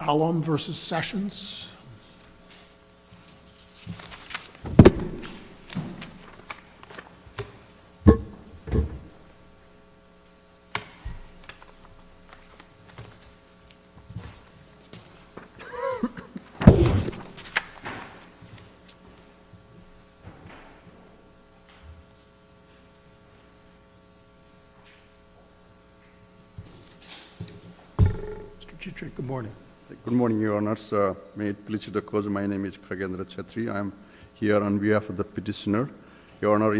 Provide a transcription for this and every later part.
Alom v. Sessions Good morning, Your Honors. May it please the Court, my name is Kagendra Chetri. I am here on behalf of the petitioner. Your Honor,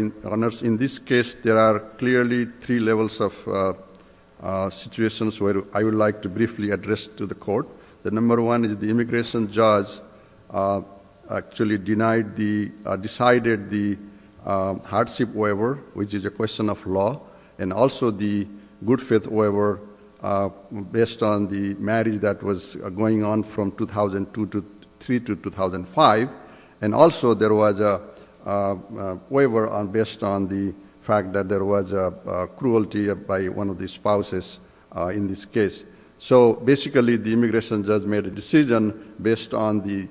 in this case, there are clearly three levels of situations where I would like to briefly address to the Court. The number one is the immigration judge actually decided the hardship waiver, which is a question of law, and also the good faith waiver based on the marriage that was going on from 2003 to 2005, and also there was a waiver based on the fact that there was cruelty by one of the spouses in this case. So basically the immigration judge made a decision based on the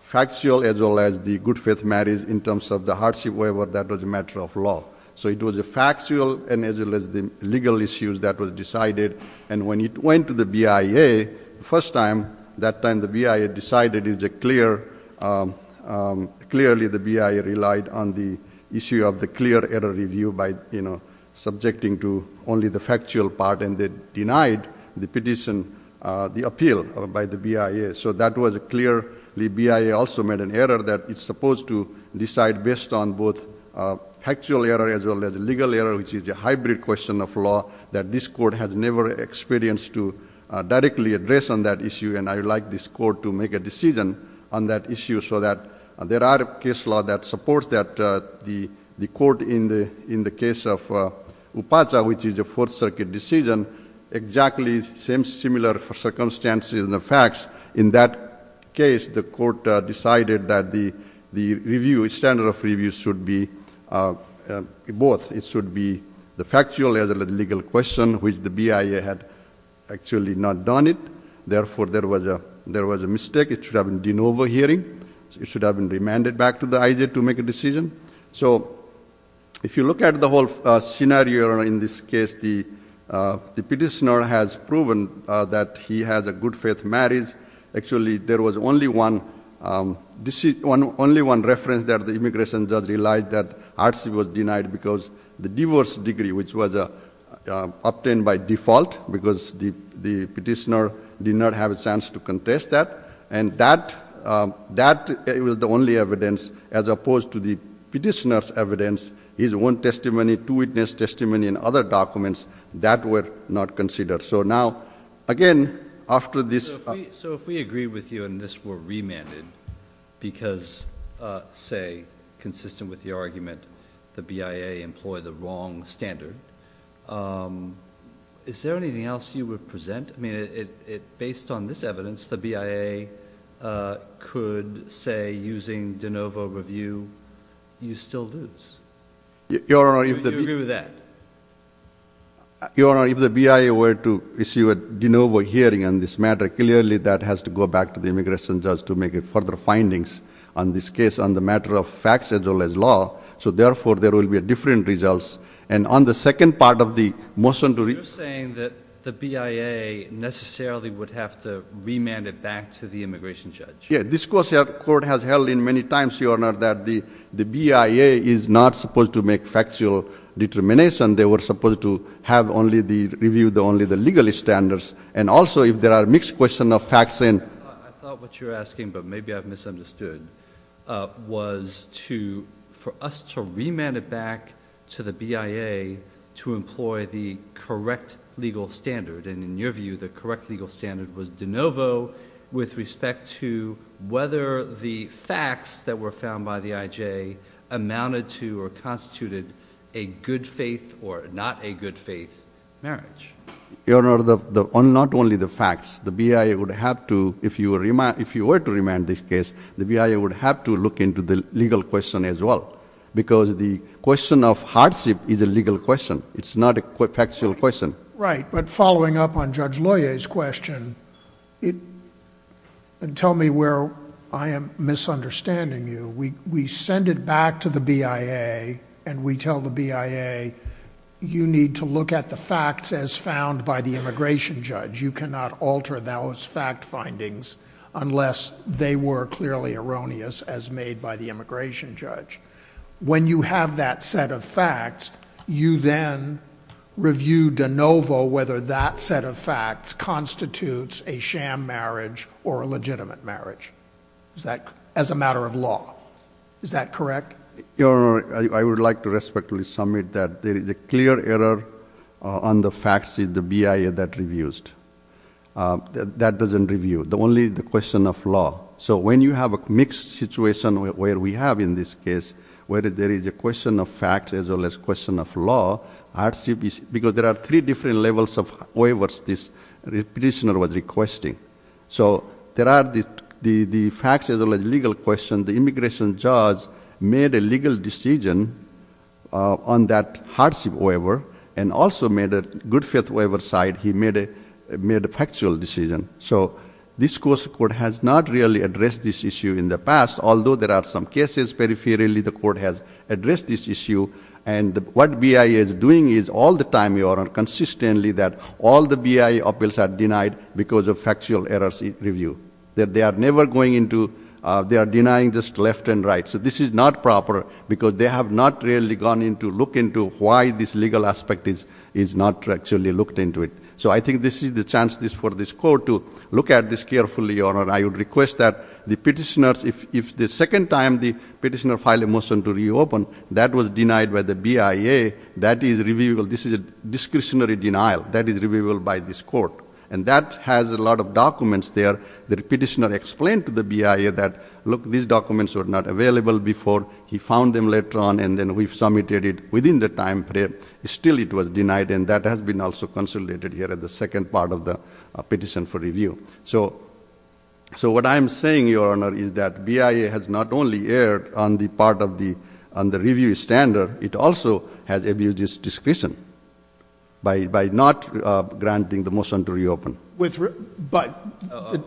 factual as well as the good faith marriage in terms of the hardship waiver that was a matter of law. So it was a factual and as well as the legal issues that were decided, and when it went to the BIA, the first time, that time the BIA decided it was clear, clearly the BIA relied on the issue of the clear error review by, you know, subjecting to only the factual part, and they denied the petition, the appeal by the BIA. So that was a clear, the BIA also made an error that it's supposed to decide based on both factual error as well as legal error, which is a hybrid question of law that this Court has never experienced to directly address on that issue, and I would like this Court to make a decision on that issue so that there are case laws that support that. The Court in the case of Upacha, which is a Fourth Circuit decision, exactly same, similar circumstances and the facts. In that case, the Court decided that the review, standard of review should be both. It should be the factual as well as the legal question, which the BIA had actually not done it. Therefore, there was a mistake. It should have been de novo hearing. It should have been remanded back to the IJ to make a decision. So if you look at the whole scenario in this case, the petitioner has proven that he has a good faith marriage. Actually, there was only one reference that the immigration judge relied that RC was denied because the divorce degree, which was obtained by default because the petitioner did not have a chance to contest that, and that was the only evidence as opposed to the petitioner's evidence, his own testimony, two witness testimony and other documents that were not considered. So now, again, after this— So if we agree with you and this were remanded because, say, consistent with your argument, the BIA employed the wrong standard, is there anything else you would present? I mean, based on this evidence, the BIA could say using de novo review, you still lose. You agree with that? Your Honor, if the BIA were to issue a de novo hearing on this matter, clearly that has to go back to the immigration judge to make further findings on this case on the matter of facts as well as law. So therefore, there will be different results. And on the second part of the motion to— You're saying that the BIA necessarily would have to remand it back to the immigration judge. Yeah, this court has held many times, Your Honor, that the BIA is not supposed to make factual determination. They were supposed to have only the—review only the legal standards. And also, if there are mixed questions of facts and— I thought what you're asking, but maybe I've misunderstood, was for us to remand it back to the BIA to employ the correct legal standard. And in your view, the correct legal standard was de novo with respect to whether the facts that were found by the IJ amounted to or constituted a good faith or not a good faith marriage. Your Honor, not only the facts. The BIA would have to, if you were to remand this case, the BIA would have to look into the legal question as well. Because the question of hardship is a legal question. It's not a factual question. Right, but following up on Judge Loyer's question, and tell me where I am misunderstanding you, we send it back to the BIA and we tell the BIA, you need to look at the facts as found by the immigration judge. You cannot alter those fact findings unless they were clearly erroneous as made by the immigration judge. When you have that set of facts, you then review de novo whether that set of facts constitutes a sham marriage or a legitimate marriage as a matter of law. Is that correct? Your Honor, I would like to respectfully submit that there is a clear error on the facts in the BIA that reviews. That doesn't review, only the question of law. So when you have a mixed situation where we have in this case, where there is a question of facts as well as question of law, because there are three different levels of waivers this petitioner was requesting. So there are the facts as well as legal questions. The immigration judge made a legal decision on that hardship waiver and also made a good faith waiver side, he made a factual decision. So this court has not really addressed this issue in the past, although there are some cases peripherally the court has addressed this issue. And what BIA is doing is all the time, Your Honor, consistently that all the BIA appeals are denied because of factual errors in review. That they are never going into, they are denying just left and right. So this is not proper because they have not really gone in to look into why this legal aspect is not actually looked into it. So I think this is the chance for this court to look at this carefully, Your Honor. I would request that the petitioners, if the second time the petitioner filed a motion to reopen, that was denied by the BIA, that is reviewable. This is a discretionary denial. That is reviewable by this court. And that has a lot of documents there. The petitioner explained to the BIA that, look, these documents were not available before. He found them later on and then we've submitted it within the time frame. Still it was denied and that has been also consolidated here at the second part of the petition for review. So what I'm saying, Your Honor, is that BIA has not only erred on the part of the review standard, it also has abused its discretion by not granting the motion to reopen. But,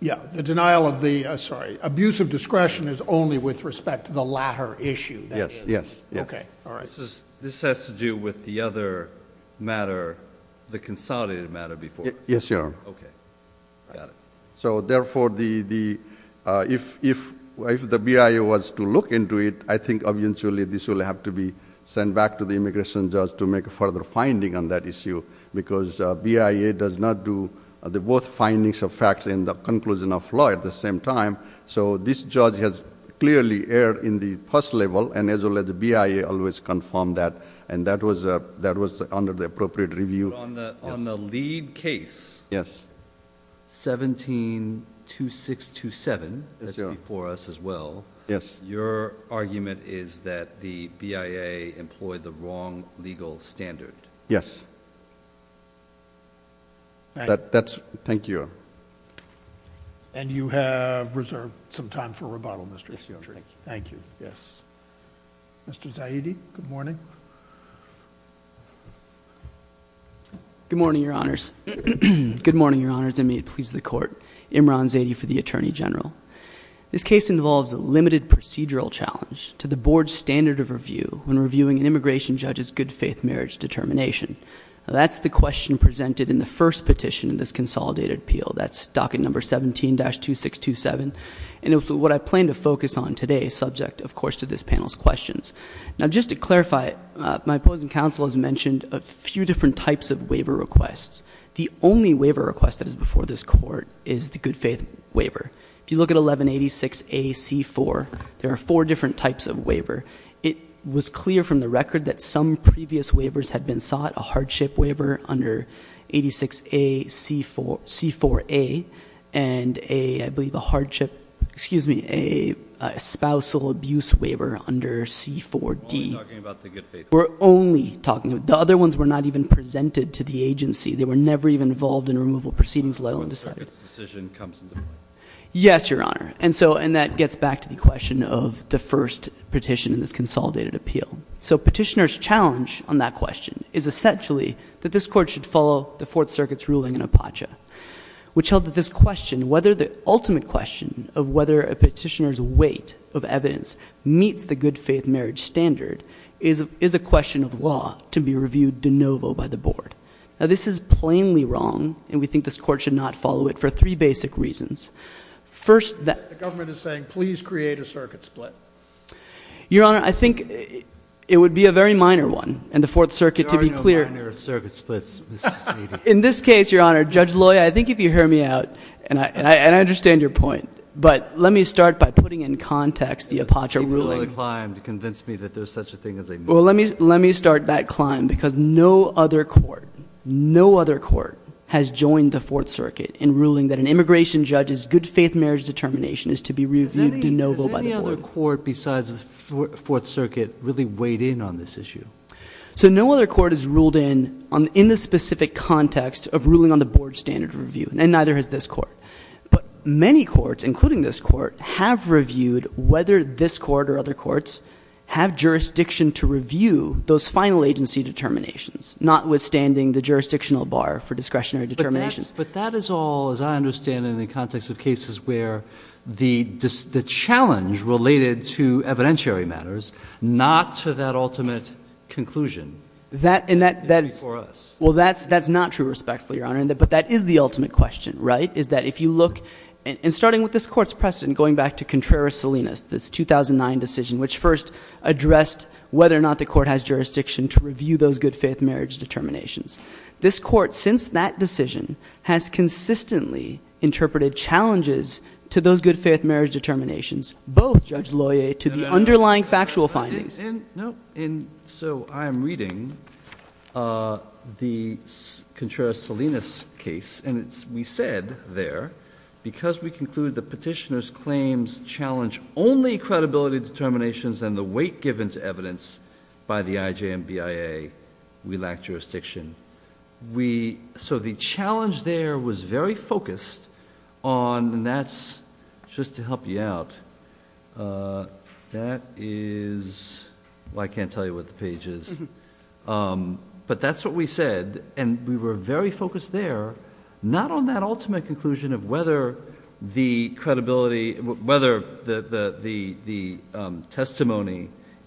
yeah, the denial of the, sorry, abuse of discretion is only with respect to the latter issue. Yes, yes. Okay, all right. This has to do with the other matter, the consolidated matter before. Yes, Your Honor. Okay. Got it. So, therefore, if the BIA was to look into it, I think eventually this will have to be sent back to the immigration judge to make a further finding on that issue because BIA does not do the both findings of facts and the conclusion of law at the same time. So this judge has clearly erred in the first level and as well as the BIA always confirmed that. And that was under the appropriate review. But on the lead case, 172627, that's before us as well, your argument is that the BIA employed the wrong legal standard. Yes. Thank you. And you have reserved some time for rebuttal, Mr. Fitzgerald. Yes, Your Honor. Thank you. Yes. Mr. Zaidi, good morning. Good morning, Your Honors. Good morning, Your Honors, and may it please the Court. Imran Zaidi for the Attorney General. This case involves a limited procedural challenge to the Board's standard of review when reviewing an immigration judge's good faith marriage determination. That's the question presented in the first petition in this consolidated appeal. That's docket number 17-2627. And what I plan to focus on today is subject, of course, to this panel's questions. Now, just to clarify, my opposing counsel has mentioned a few different types of waiver requests. The only waiver request that is before this Court is the good faith waiver. If you look at 1186A-C-4, there are four different types of waiver. It was clear from the record that some previous waivers had been sought, a hardship waiver under 1186A-C-4A and a, I believe, a hardship, excuse me, a spousal abuse waiver under 1186A-C-4D. We're only talking about the good faith waiver. We're only talking about it. The other ones were not even presented to the agency. They were never even involved in removal proceedings, let alone decided. No one circuit's decision comes into play. Yes, Your Honor. And that gets back to the question of the first petition in this consolidated appeal. So petitioner's challenge on that question is essentially that this Court should follow the Fourth Circuit's ruling in Apache, which held that this question, whether the ultimate question of whether a petitioner's weight of evidence meets the good faith marriage standard, is a question of law to be reviewed de novo by the Board. Now, this is plainly wrong, and we think this Court should not follow it for three basic reasons. First, the government is saying, please create a circuit split. Your Honor, I think it would be a very minor one, and the Fourth Circuit, to be clear. There are no minor circuit splits, Mr. Snedek. In this case, Your Honor, Judge Loya, I think if you hear me out, and I understand your point, but let me start by putting in context the Apache ruling. People will climb to convince me that there's such a thing as a minimum. Well, let me start that climb, because no other court, no other court has joined the Fourth Circuit in ruling that an immigration judge's good faith marriage determination is to be reviewed de novo by the Board. No other court besides the Fourth Circuit really weighed in on this issue. So no other court has ruled in, in the specific context of ruling on the Board standard of review, and neither has this Court. But many courts, including this Court, have reviewed whether this Court or other courts have jurisdiction to review those final agency determinations, notwithstanding the jurisdictional bar for discretionary determinations. But that is all, as I understand it, in the context of cases where the challenge related to evidentiary matters, not to that ultimate conclusion, is before us. Well, that's not true, respectfully, Your Honor, but that is the ultimate question, right? Is that if you look, and starting with this Court's precedent, going back to Contreras-Salinas, this 2009 decision, which first addressed whether or not the Court has jurisdiction to review those good faith marriage determinations. This Court, since that decision, has consistently interpreted challenges to those good faith marriage determinations, both, Judge Loyer, to the underlying factual findings. And so I'm reading the Contreras-Salinas case, and we said there, because we conclude the petitioner's claims challenge only credibility determinations and the weight given to evidence by the IJMBIA, we lack jurisdiction. So the challenge there was very focused on, and that's, just to help you out, that is, well, I can't tell you what the page is. But that's what we said, and we were very focused there, not on that ultimate conclusion of whether the testimony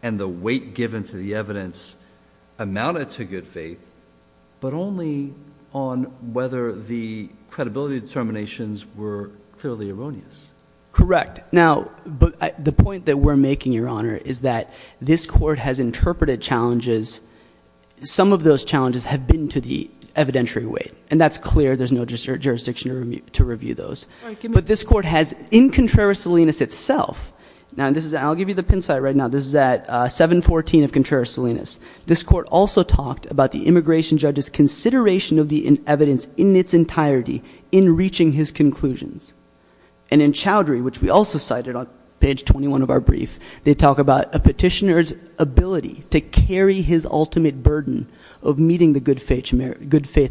and the weight given to the evidence amounted to good faith, but only on whether the credibility determinations were clearly erroneous. Correct. Now, the point that we're making, Your Honor, is that this Court has interpreted challenges. Some of those challenges have been to the evidentiary weight. And that's clear. There's no jurisdiction to review those. But this Court has, in Contreras-Salinas itself, and I'll give you the pin site right now. This is at 714 of Contreras-Salinas. This Court also talked about the immigration judge's consideration of the evidence in its entirety in reaching his conclusions. And in Chowdhury, which we also cited on page 21 of our brief, they talk about a petitioner's ability to carry his ultimate burden of meeting the good faith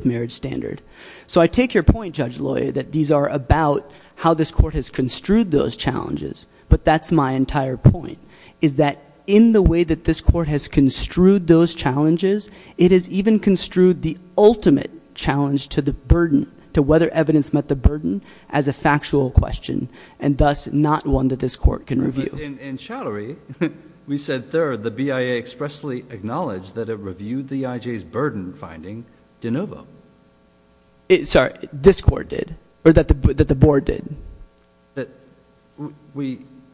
marriage standard. So I take your point, Judge Loy, that these are about how this Court has construed those challenges. But that's my entire point, is that in the way that this Court has construed those challenges, it has even construed the ultimate challenge to the burden, to whether evidence met the burden, as a factual question, and thus not one that this Court can review. In Chowdhury, we said third, the BIA expressly acknowledged that it reviewed the IJ's burden finding de novo. Sorry. This Court did. Or that the board did.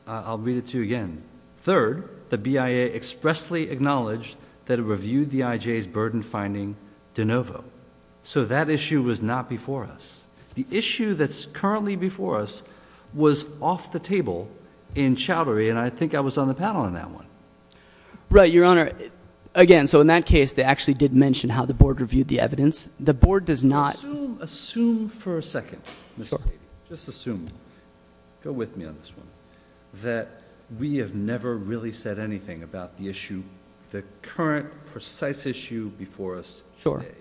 I'll read it to you again. Third, the BIA expressly acknowledged that it reviewed the IJ's burden finding de novo. So that issue was not before us. The issue that's currently before us was off the table in Chowdhury, and I think I was on the panel on that one. Right, Your Honor. Again, so in that case, they actually did mention how the board reviewed the evidence. The board does not— Assume for a second, Mr. Cady. Just assume. Go with me on this one. That we have never really said anything about the issue, the current precise issue before us today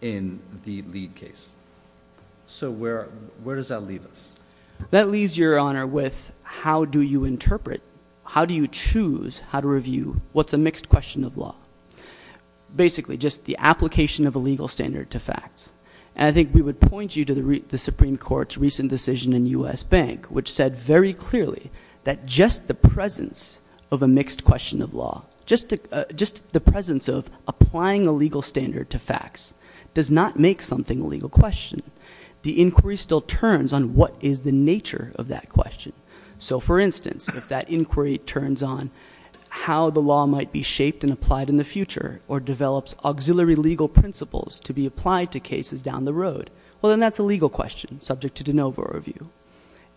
in the lead case. So where does that leave us? That leaves, Your Honor, with how do you interpret, how do you choose how to review what's a mixed question of law? Basically, just the application of a legal standard to fact. And I think we would point you to the Supreme Court's recent decision in U.S. Bank, which said very clearly that just the presence of a mixed question of law, just the presence of applying a legal standard to facts does not make something a legal question. The inquiry still turns on what is the nature of that question. So, for instance, if that inquiry turns on how the law might be shaped and applied in the future or develops auxiliary legal principles to be applied to cases down the road, well, then that's a legal question subject to de novo review.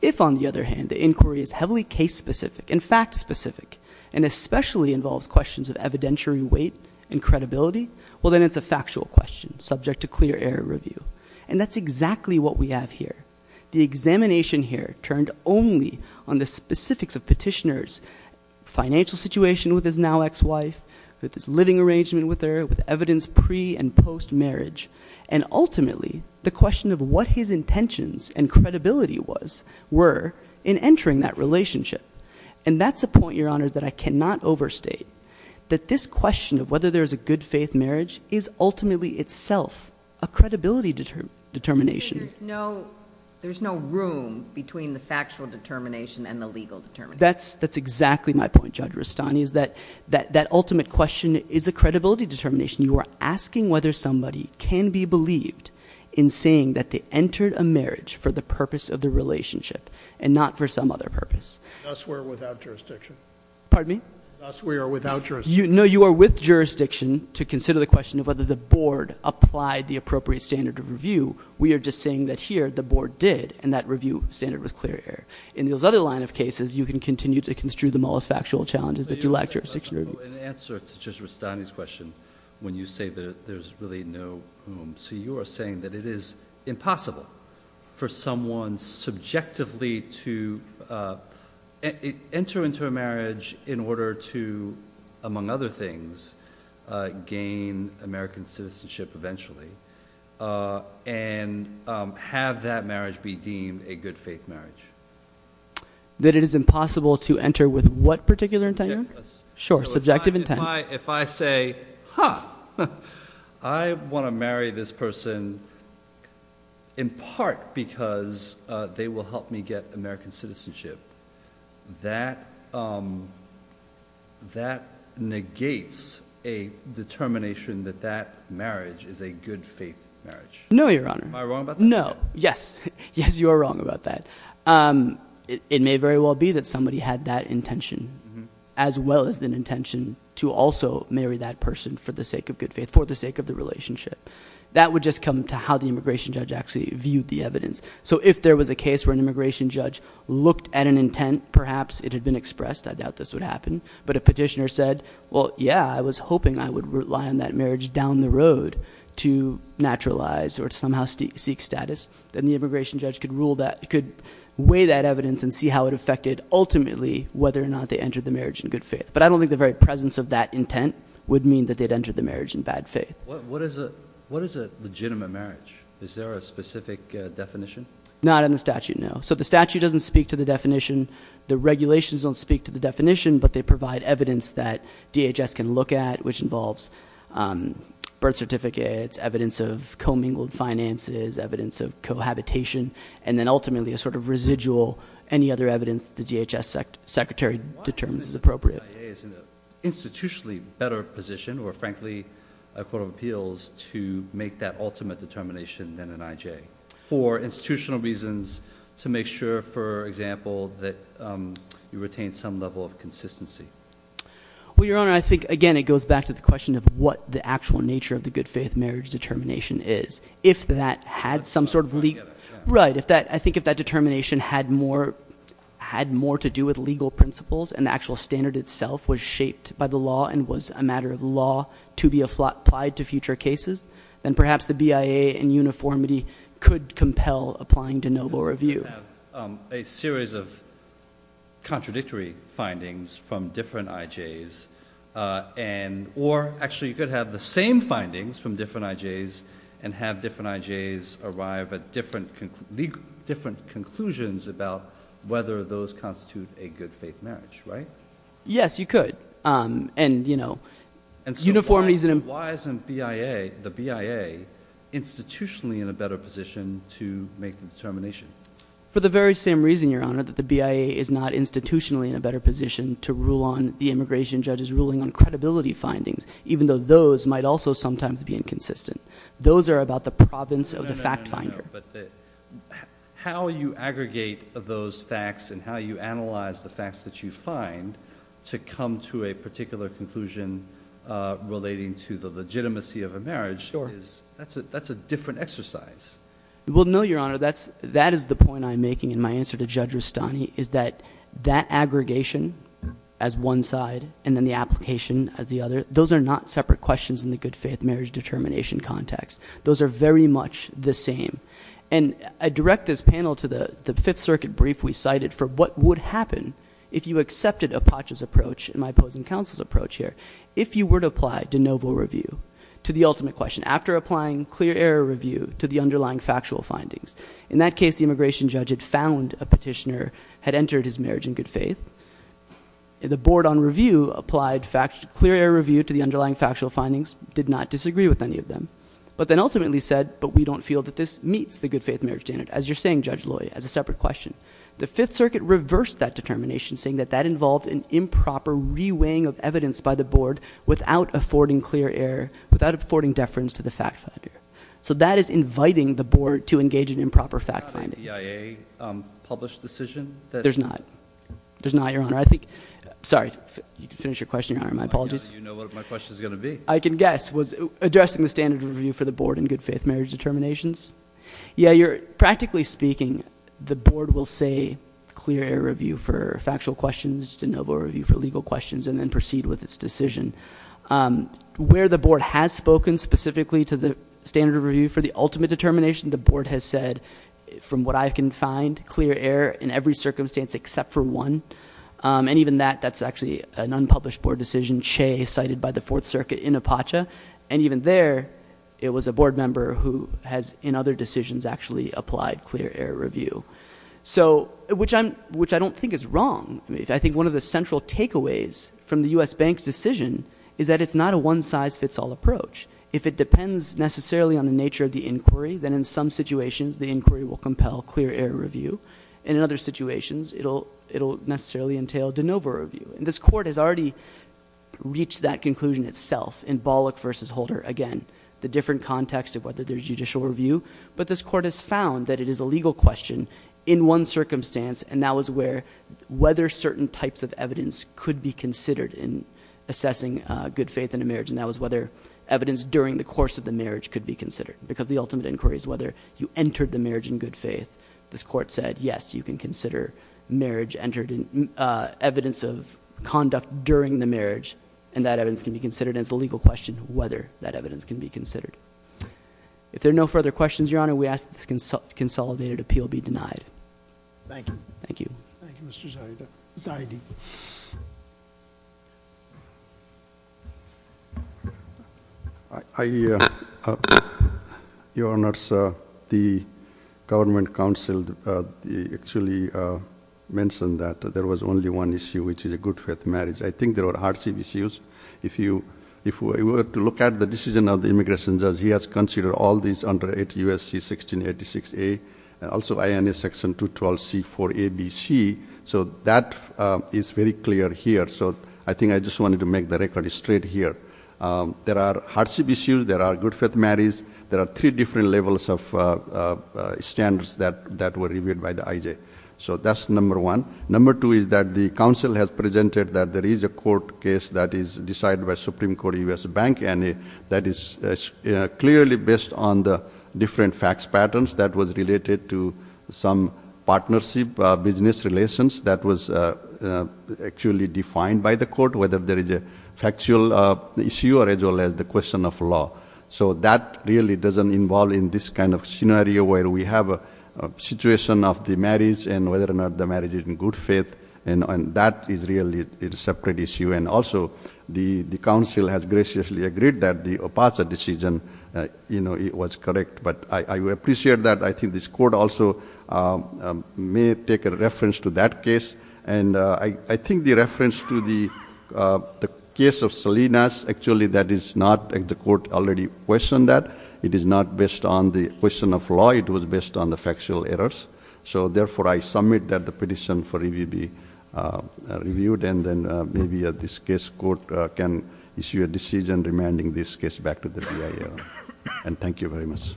If, on the other hand, the inquiry is heavily case-specific and fact-specific and especially involves questions of evidentiary weight and credibility, well, then it's a factual question subject to clear error review. And that's exactly what we have here. The examination here turned only on the specifics of petitioner's financial situation with his now ex-wife, with his living arrangement with her, with evidence pre- and post-marriage, and ultimately the question of what his intentions and credibility were in entering that relationship. And that's a point, Your Honors, that I cannot overstate, that this question of whether there is a good-faith marriage is ultimately itself a credibility determination. There's no room between the factual determination and the legal determination. That's exactly my point, Judge Rustani, is that that ultimate question is a credibility determination. You are asking whether somebody can be believed in saying that they entered a marriage for the purpose of the relationship and not for some other purpose. Thus, we are without jurisdiction. Pardon me? Thus, we are without jurisdiction. No, you are with jurisdiction to consider the question of whether the board applied the appropriate standard of review. We are just saying that here the board did and that review standard was clear error. In those other line of cases, you can continue to construe them all as factual challenges that do lack jurisdiction review. In answer to Judge Rustani's question, when you say that there's really no room, so you are saying that it is impossible for someone subjectively to enter into a marriage in order to, among other things, gain American citizenship eventually and have that marriage be deemed a good-faith marriage. That it is impossible to enter with what particular intent? Sure, subjective intent. If I say, huh, I want to marry this person in part because they will help me get American citizenship, that negates a determination that that marriage is a good-faith marriage. No, Your Honor. Am I wrong about that? No, yes. Yes, you are wrong about that. It may very well be that somebody had that intention as well as an intention to also marry that person for the sake of good faith, for the sake of the relationship. That would just come to how the immigration judge actually viewed the evidence. So if there was a case where an immigration judge looked at an intent, perhaps it had been expressed. I doubt this would happen. But a petitioner said, well, yeah, I was hoping I would rely on that marriage down the road to naturalize or to somehow seek status. Then the immigration judge could weigh that evidence and see how it affected ultimately whether or not they entered the marriage in good faith. But I don't think the very presence of that intent would mean that they had entered the marriage in bad faith. What is a legitimate marriage? Is there a specific definition? Not in the statute, no. So the statute doesn't speak to the definition. The regulations don't speak to the definition. But they provide evidence that DHS can look at, which involves birth certificates, evidence of commingled finances, evidence of cohabitation, and then ultimately a sort of residual, any other evidence that the DHS secretary determines is appropriate. IA is in an institutionally better position, or frankly, I quote of appeals, to make that ultimate determination than an IJ. For institutional reasons, to make sure, for example, that you retain some level of consistency. Well, Your Honor, I think, again, it goes back to the question of what the actual nature of the good faith marriage determination is. Right. I think if that determination had more to do with legal principles and the actual standard itself was shaped by the law and was a matter of law to be applied to future cases, then perhaps the BIA and uniformity could compel applying to noble review. You could have a series of contradictory findings from different IJs, or actually, you could have the same findings from different IJs and have different IJs arrive at different conclusions about whether those constitute a good faith marriage. Right? Yes, you could. And, you know, uniformity is an important... For the very same reason, Your Honor, that the BIA is not institutionally in a better position to rule on the immigration judge's ruling on credibility findings, even though those might also sometimes be inconsistent. Those are about the province of the fact finder. No, no, no, but how you aggregate those facts and how you analyze the facts that you find to come to a particular conclusion relating to the legitimacy of a marriage is – that's a different exercise. Well, no, Your Honor. That is the point I'm making in my answer to Judge Rustani is that that aggregation as one side and then the application as the other, those are not separate questions in the good faith marriage determination context. Those are very much the same. And I direct this panel to the Fifth Circuit brief we cited for what would happen if you accepted Apache's approach and my opposing counsel's approach here if you were to apply de novo review to the ultimate question after applying clear error review to the underlying factual findings. In that case, the immigration judge had found a petitioner had entered his marriage in good faith. The board on review applied clear error review to the underlying factual findings, did not disagree with any of them. But then ultimately said, but we don't feel that this meets the good faith marriage standard. As you're saying, Judge Loy, as a separate question. The Fifth Circuit reversed that determination saying that that involved an improper reweighing of evidence by the board without affording clear error, without affording deference to the fact finder. So that is inviting the board to engage in improper fact finding. Is there not a BIA published decision that – There's not. There's not, Your Honor. I think – sorry. You can finish your question, Your Honor. My apologies. You know what my question is going to be. I can guess. Addressing the standard review for the board in good faith marriage determinations. Yeah, practically speaking, the board will say clear error review for factual questions, de novo review for legal questions, and then proceed with its decision. Where the board has spoken specifically to the standard review for the ultimate determination, the board has said, from what I can find, clear error in every circumstance except for one. And even that, that's actually an unpublished board decision, Che, cited by the Fourth Circuit in Apache. And even there, it was a board member who has, in other decisions, actually applied clear error review. So – which I don't think is wrong. I think one of the central takeaways from the U.S. Bank's decision is that it's not a one-size-fits-all approach. If it depends necessarily on the nature of the inquiry, then in some situations the inquiry will compel clear error review. And in other situations, it will necessarily entail de novo review. And this court has already reached that conclusion itself in Bollock v. Holder. Again, the different context of whether there's judicial review. But this court has found that it is a legal question in one circumstance, and that was where whether certain types of evidence could be considered in assessing good faith in a marriage. And that was whether evidence during the course of the marriage could be considered because the ultimate inquiry is whether you entered the marriage in good faith. This court said, yes, you can consider marriage entered in – evidence of conduct during the marriage, and that evidence can be considered. And it's a legal question whether that evidence can be considered. If there are no further questions, Your Honor, we ask that this consolidated appeal be denied. Thank you. Thank you. Thank you, Mr. Zaidi. Your Honor, the government counsel actually mentioned that there was only one issue, which is a good faith marriage. I think there are hard issues. If you were to look at the decision of the immigration judge, he has considered all these under 8 U.S.C. 1686A, and also INA section 212C4ABC. So that is very clear here. So I think I just wanted to make the record straight here. There are hardship issues. There are good faith marriages. There are three different levels of standards that were reviewed by the IJ. So that's number one. Number two is that the counsel has presented that there is a court case that is decided by Supreme Court U.S. Bank, and that is clearly based on the different facts patterns that was related to some partnership business relations that was actually defined by the court, whether there is a factual issue or as well as the question of law. So that really doesn't involve in this kind of scenario where we have a situation of the marriage and whether or not the marriage is in good faith, and that is really a separate issue. And also the counsel has graciously agreed that the OPACA decision was correct. But I appreciate that. I think this court also may take a reference to that case. And I think the reference to the case of Salinas, actually that is not the court already questioned that. It is not based on the question of law. It was based on the factual errors. So therefore, I submit that the petition for review be reviewed, and then maybe this case court can issue a decision remanding this case back to the BIA. And thank you very much.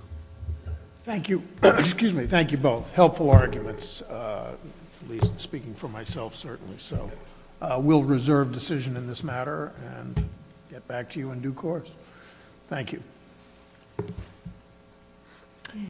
Thank you. Excuse me. Thank you both. Helpful arguments, at least speaking for myself certainly. So we'll reserve decision in this matter and get back to you in due course. Thank you.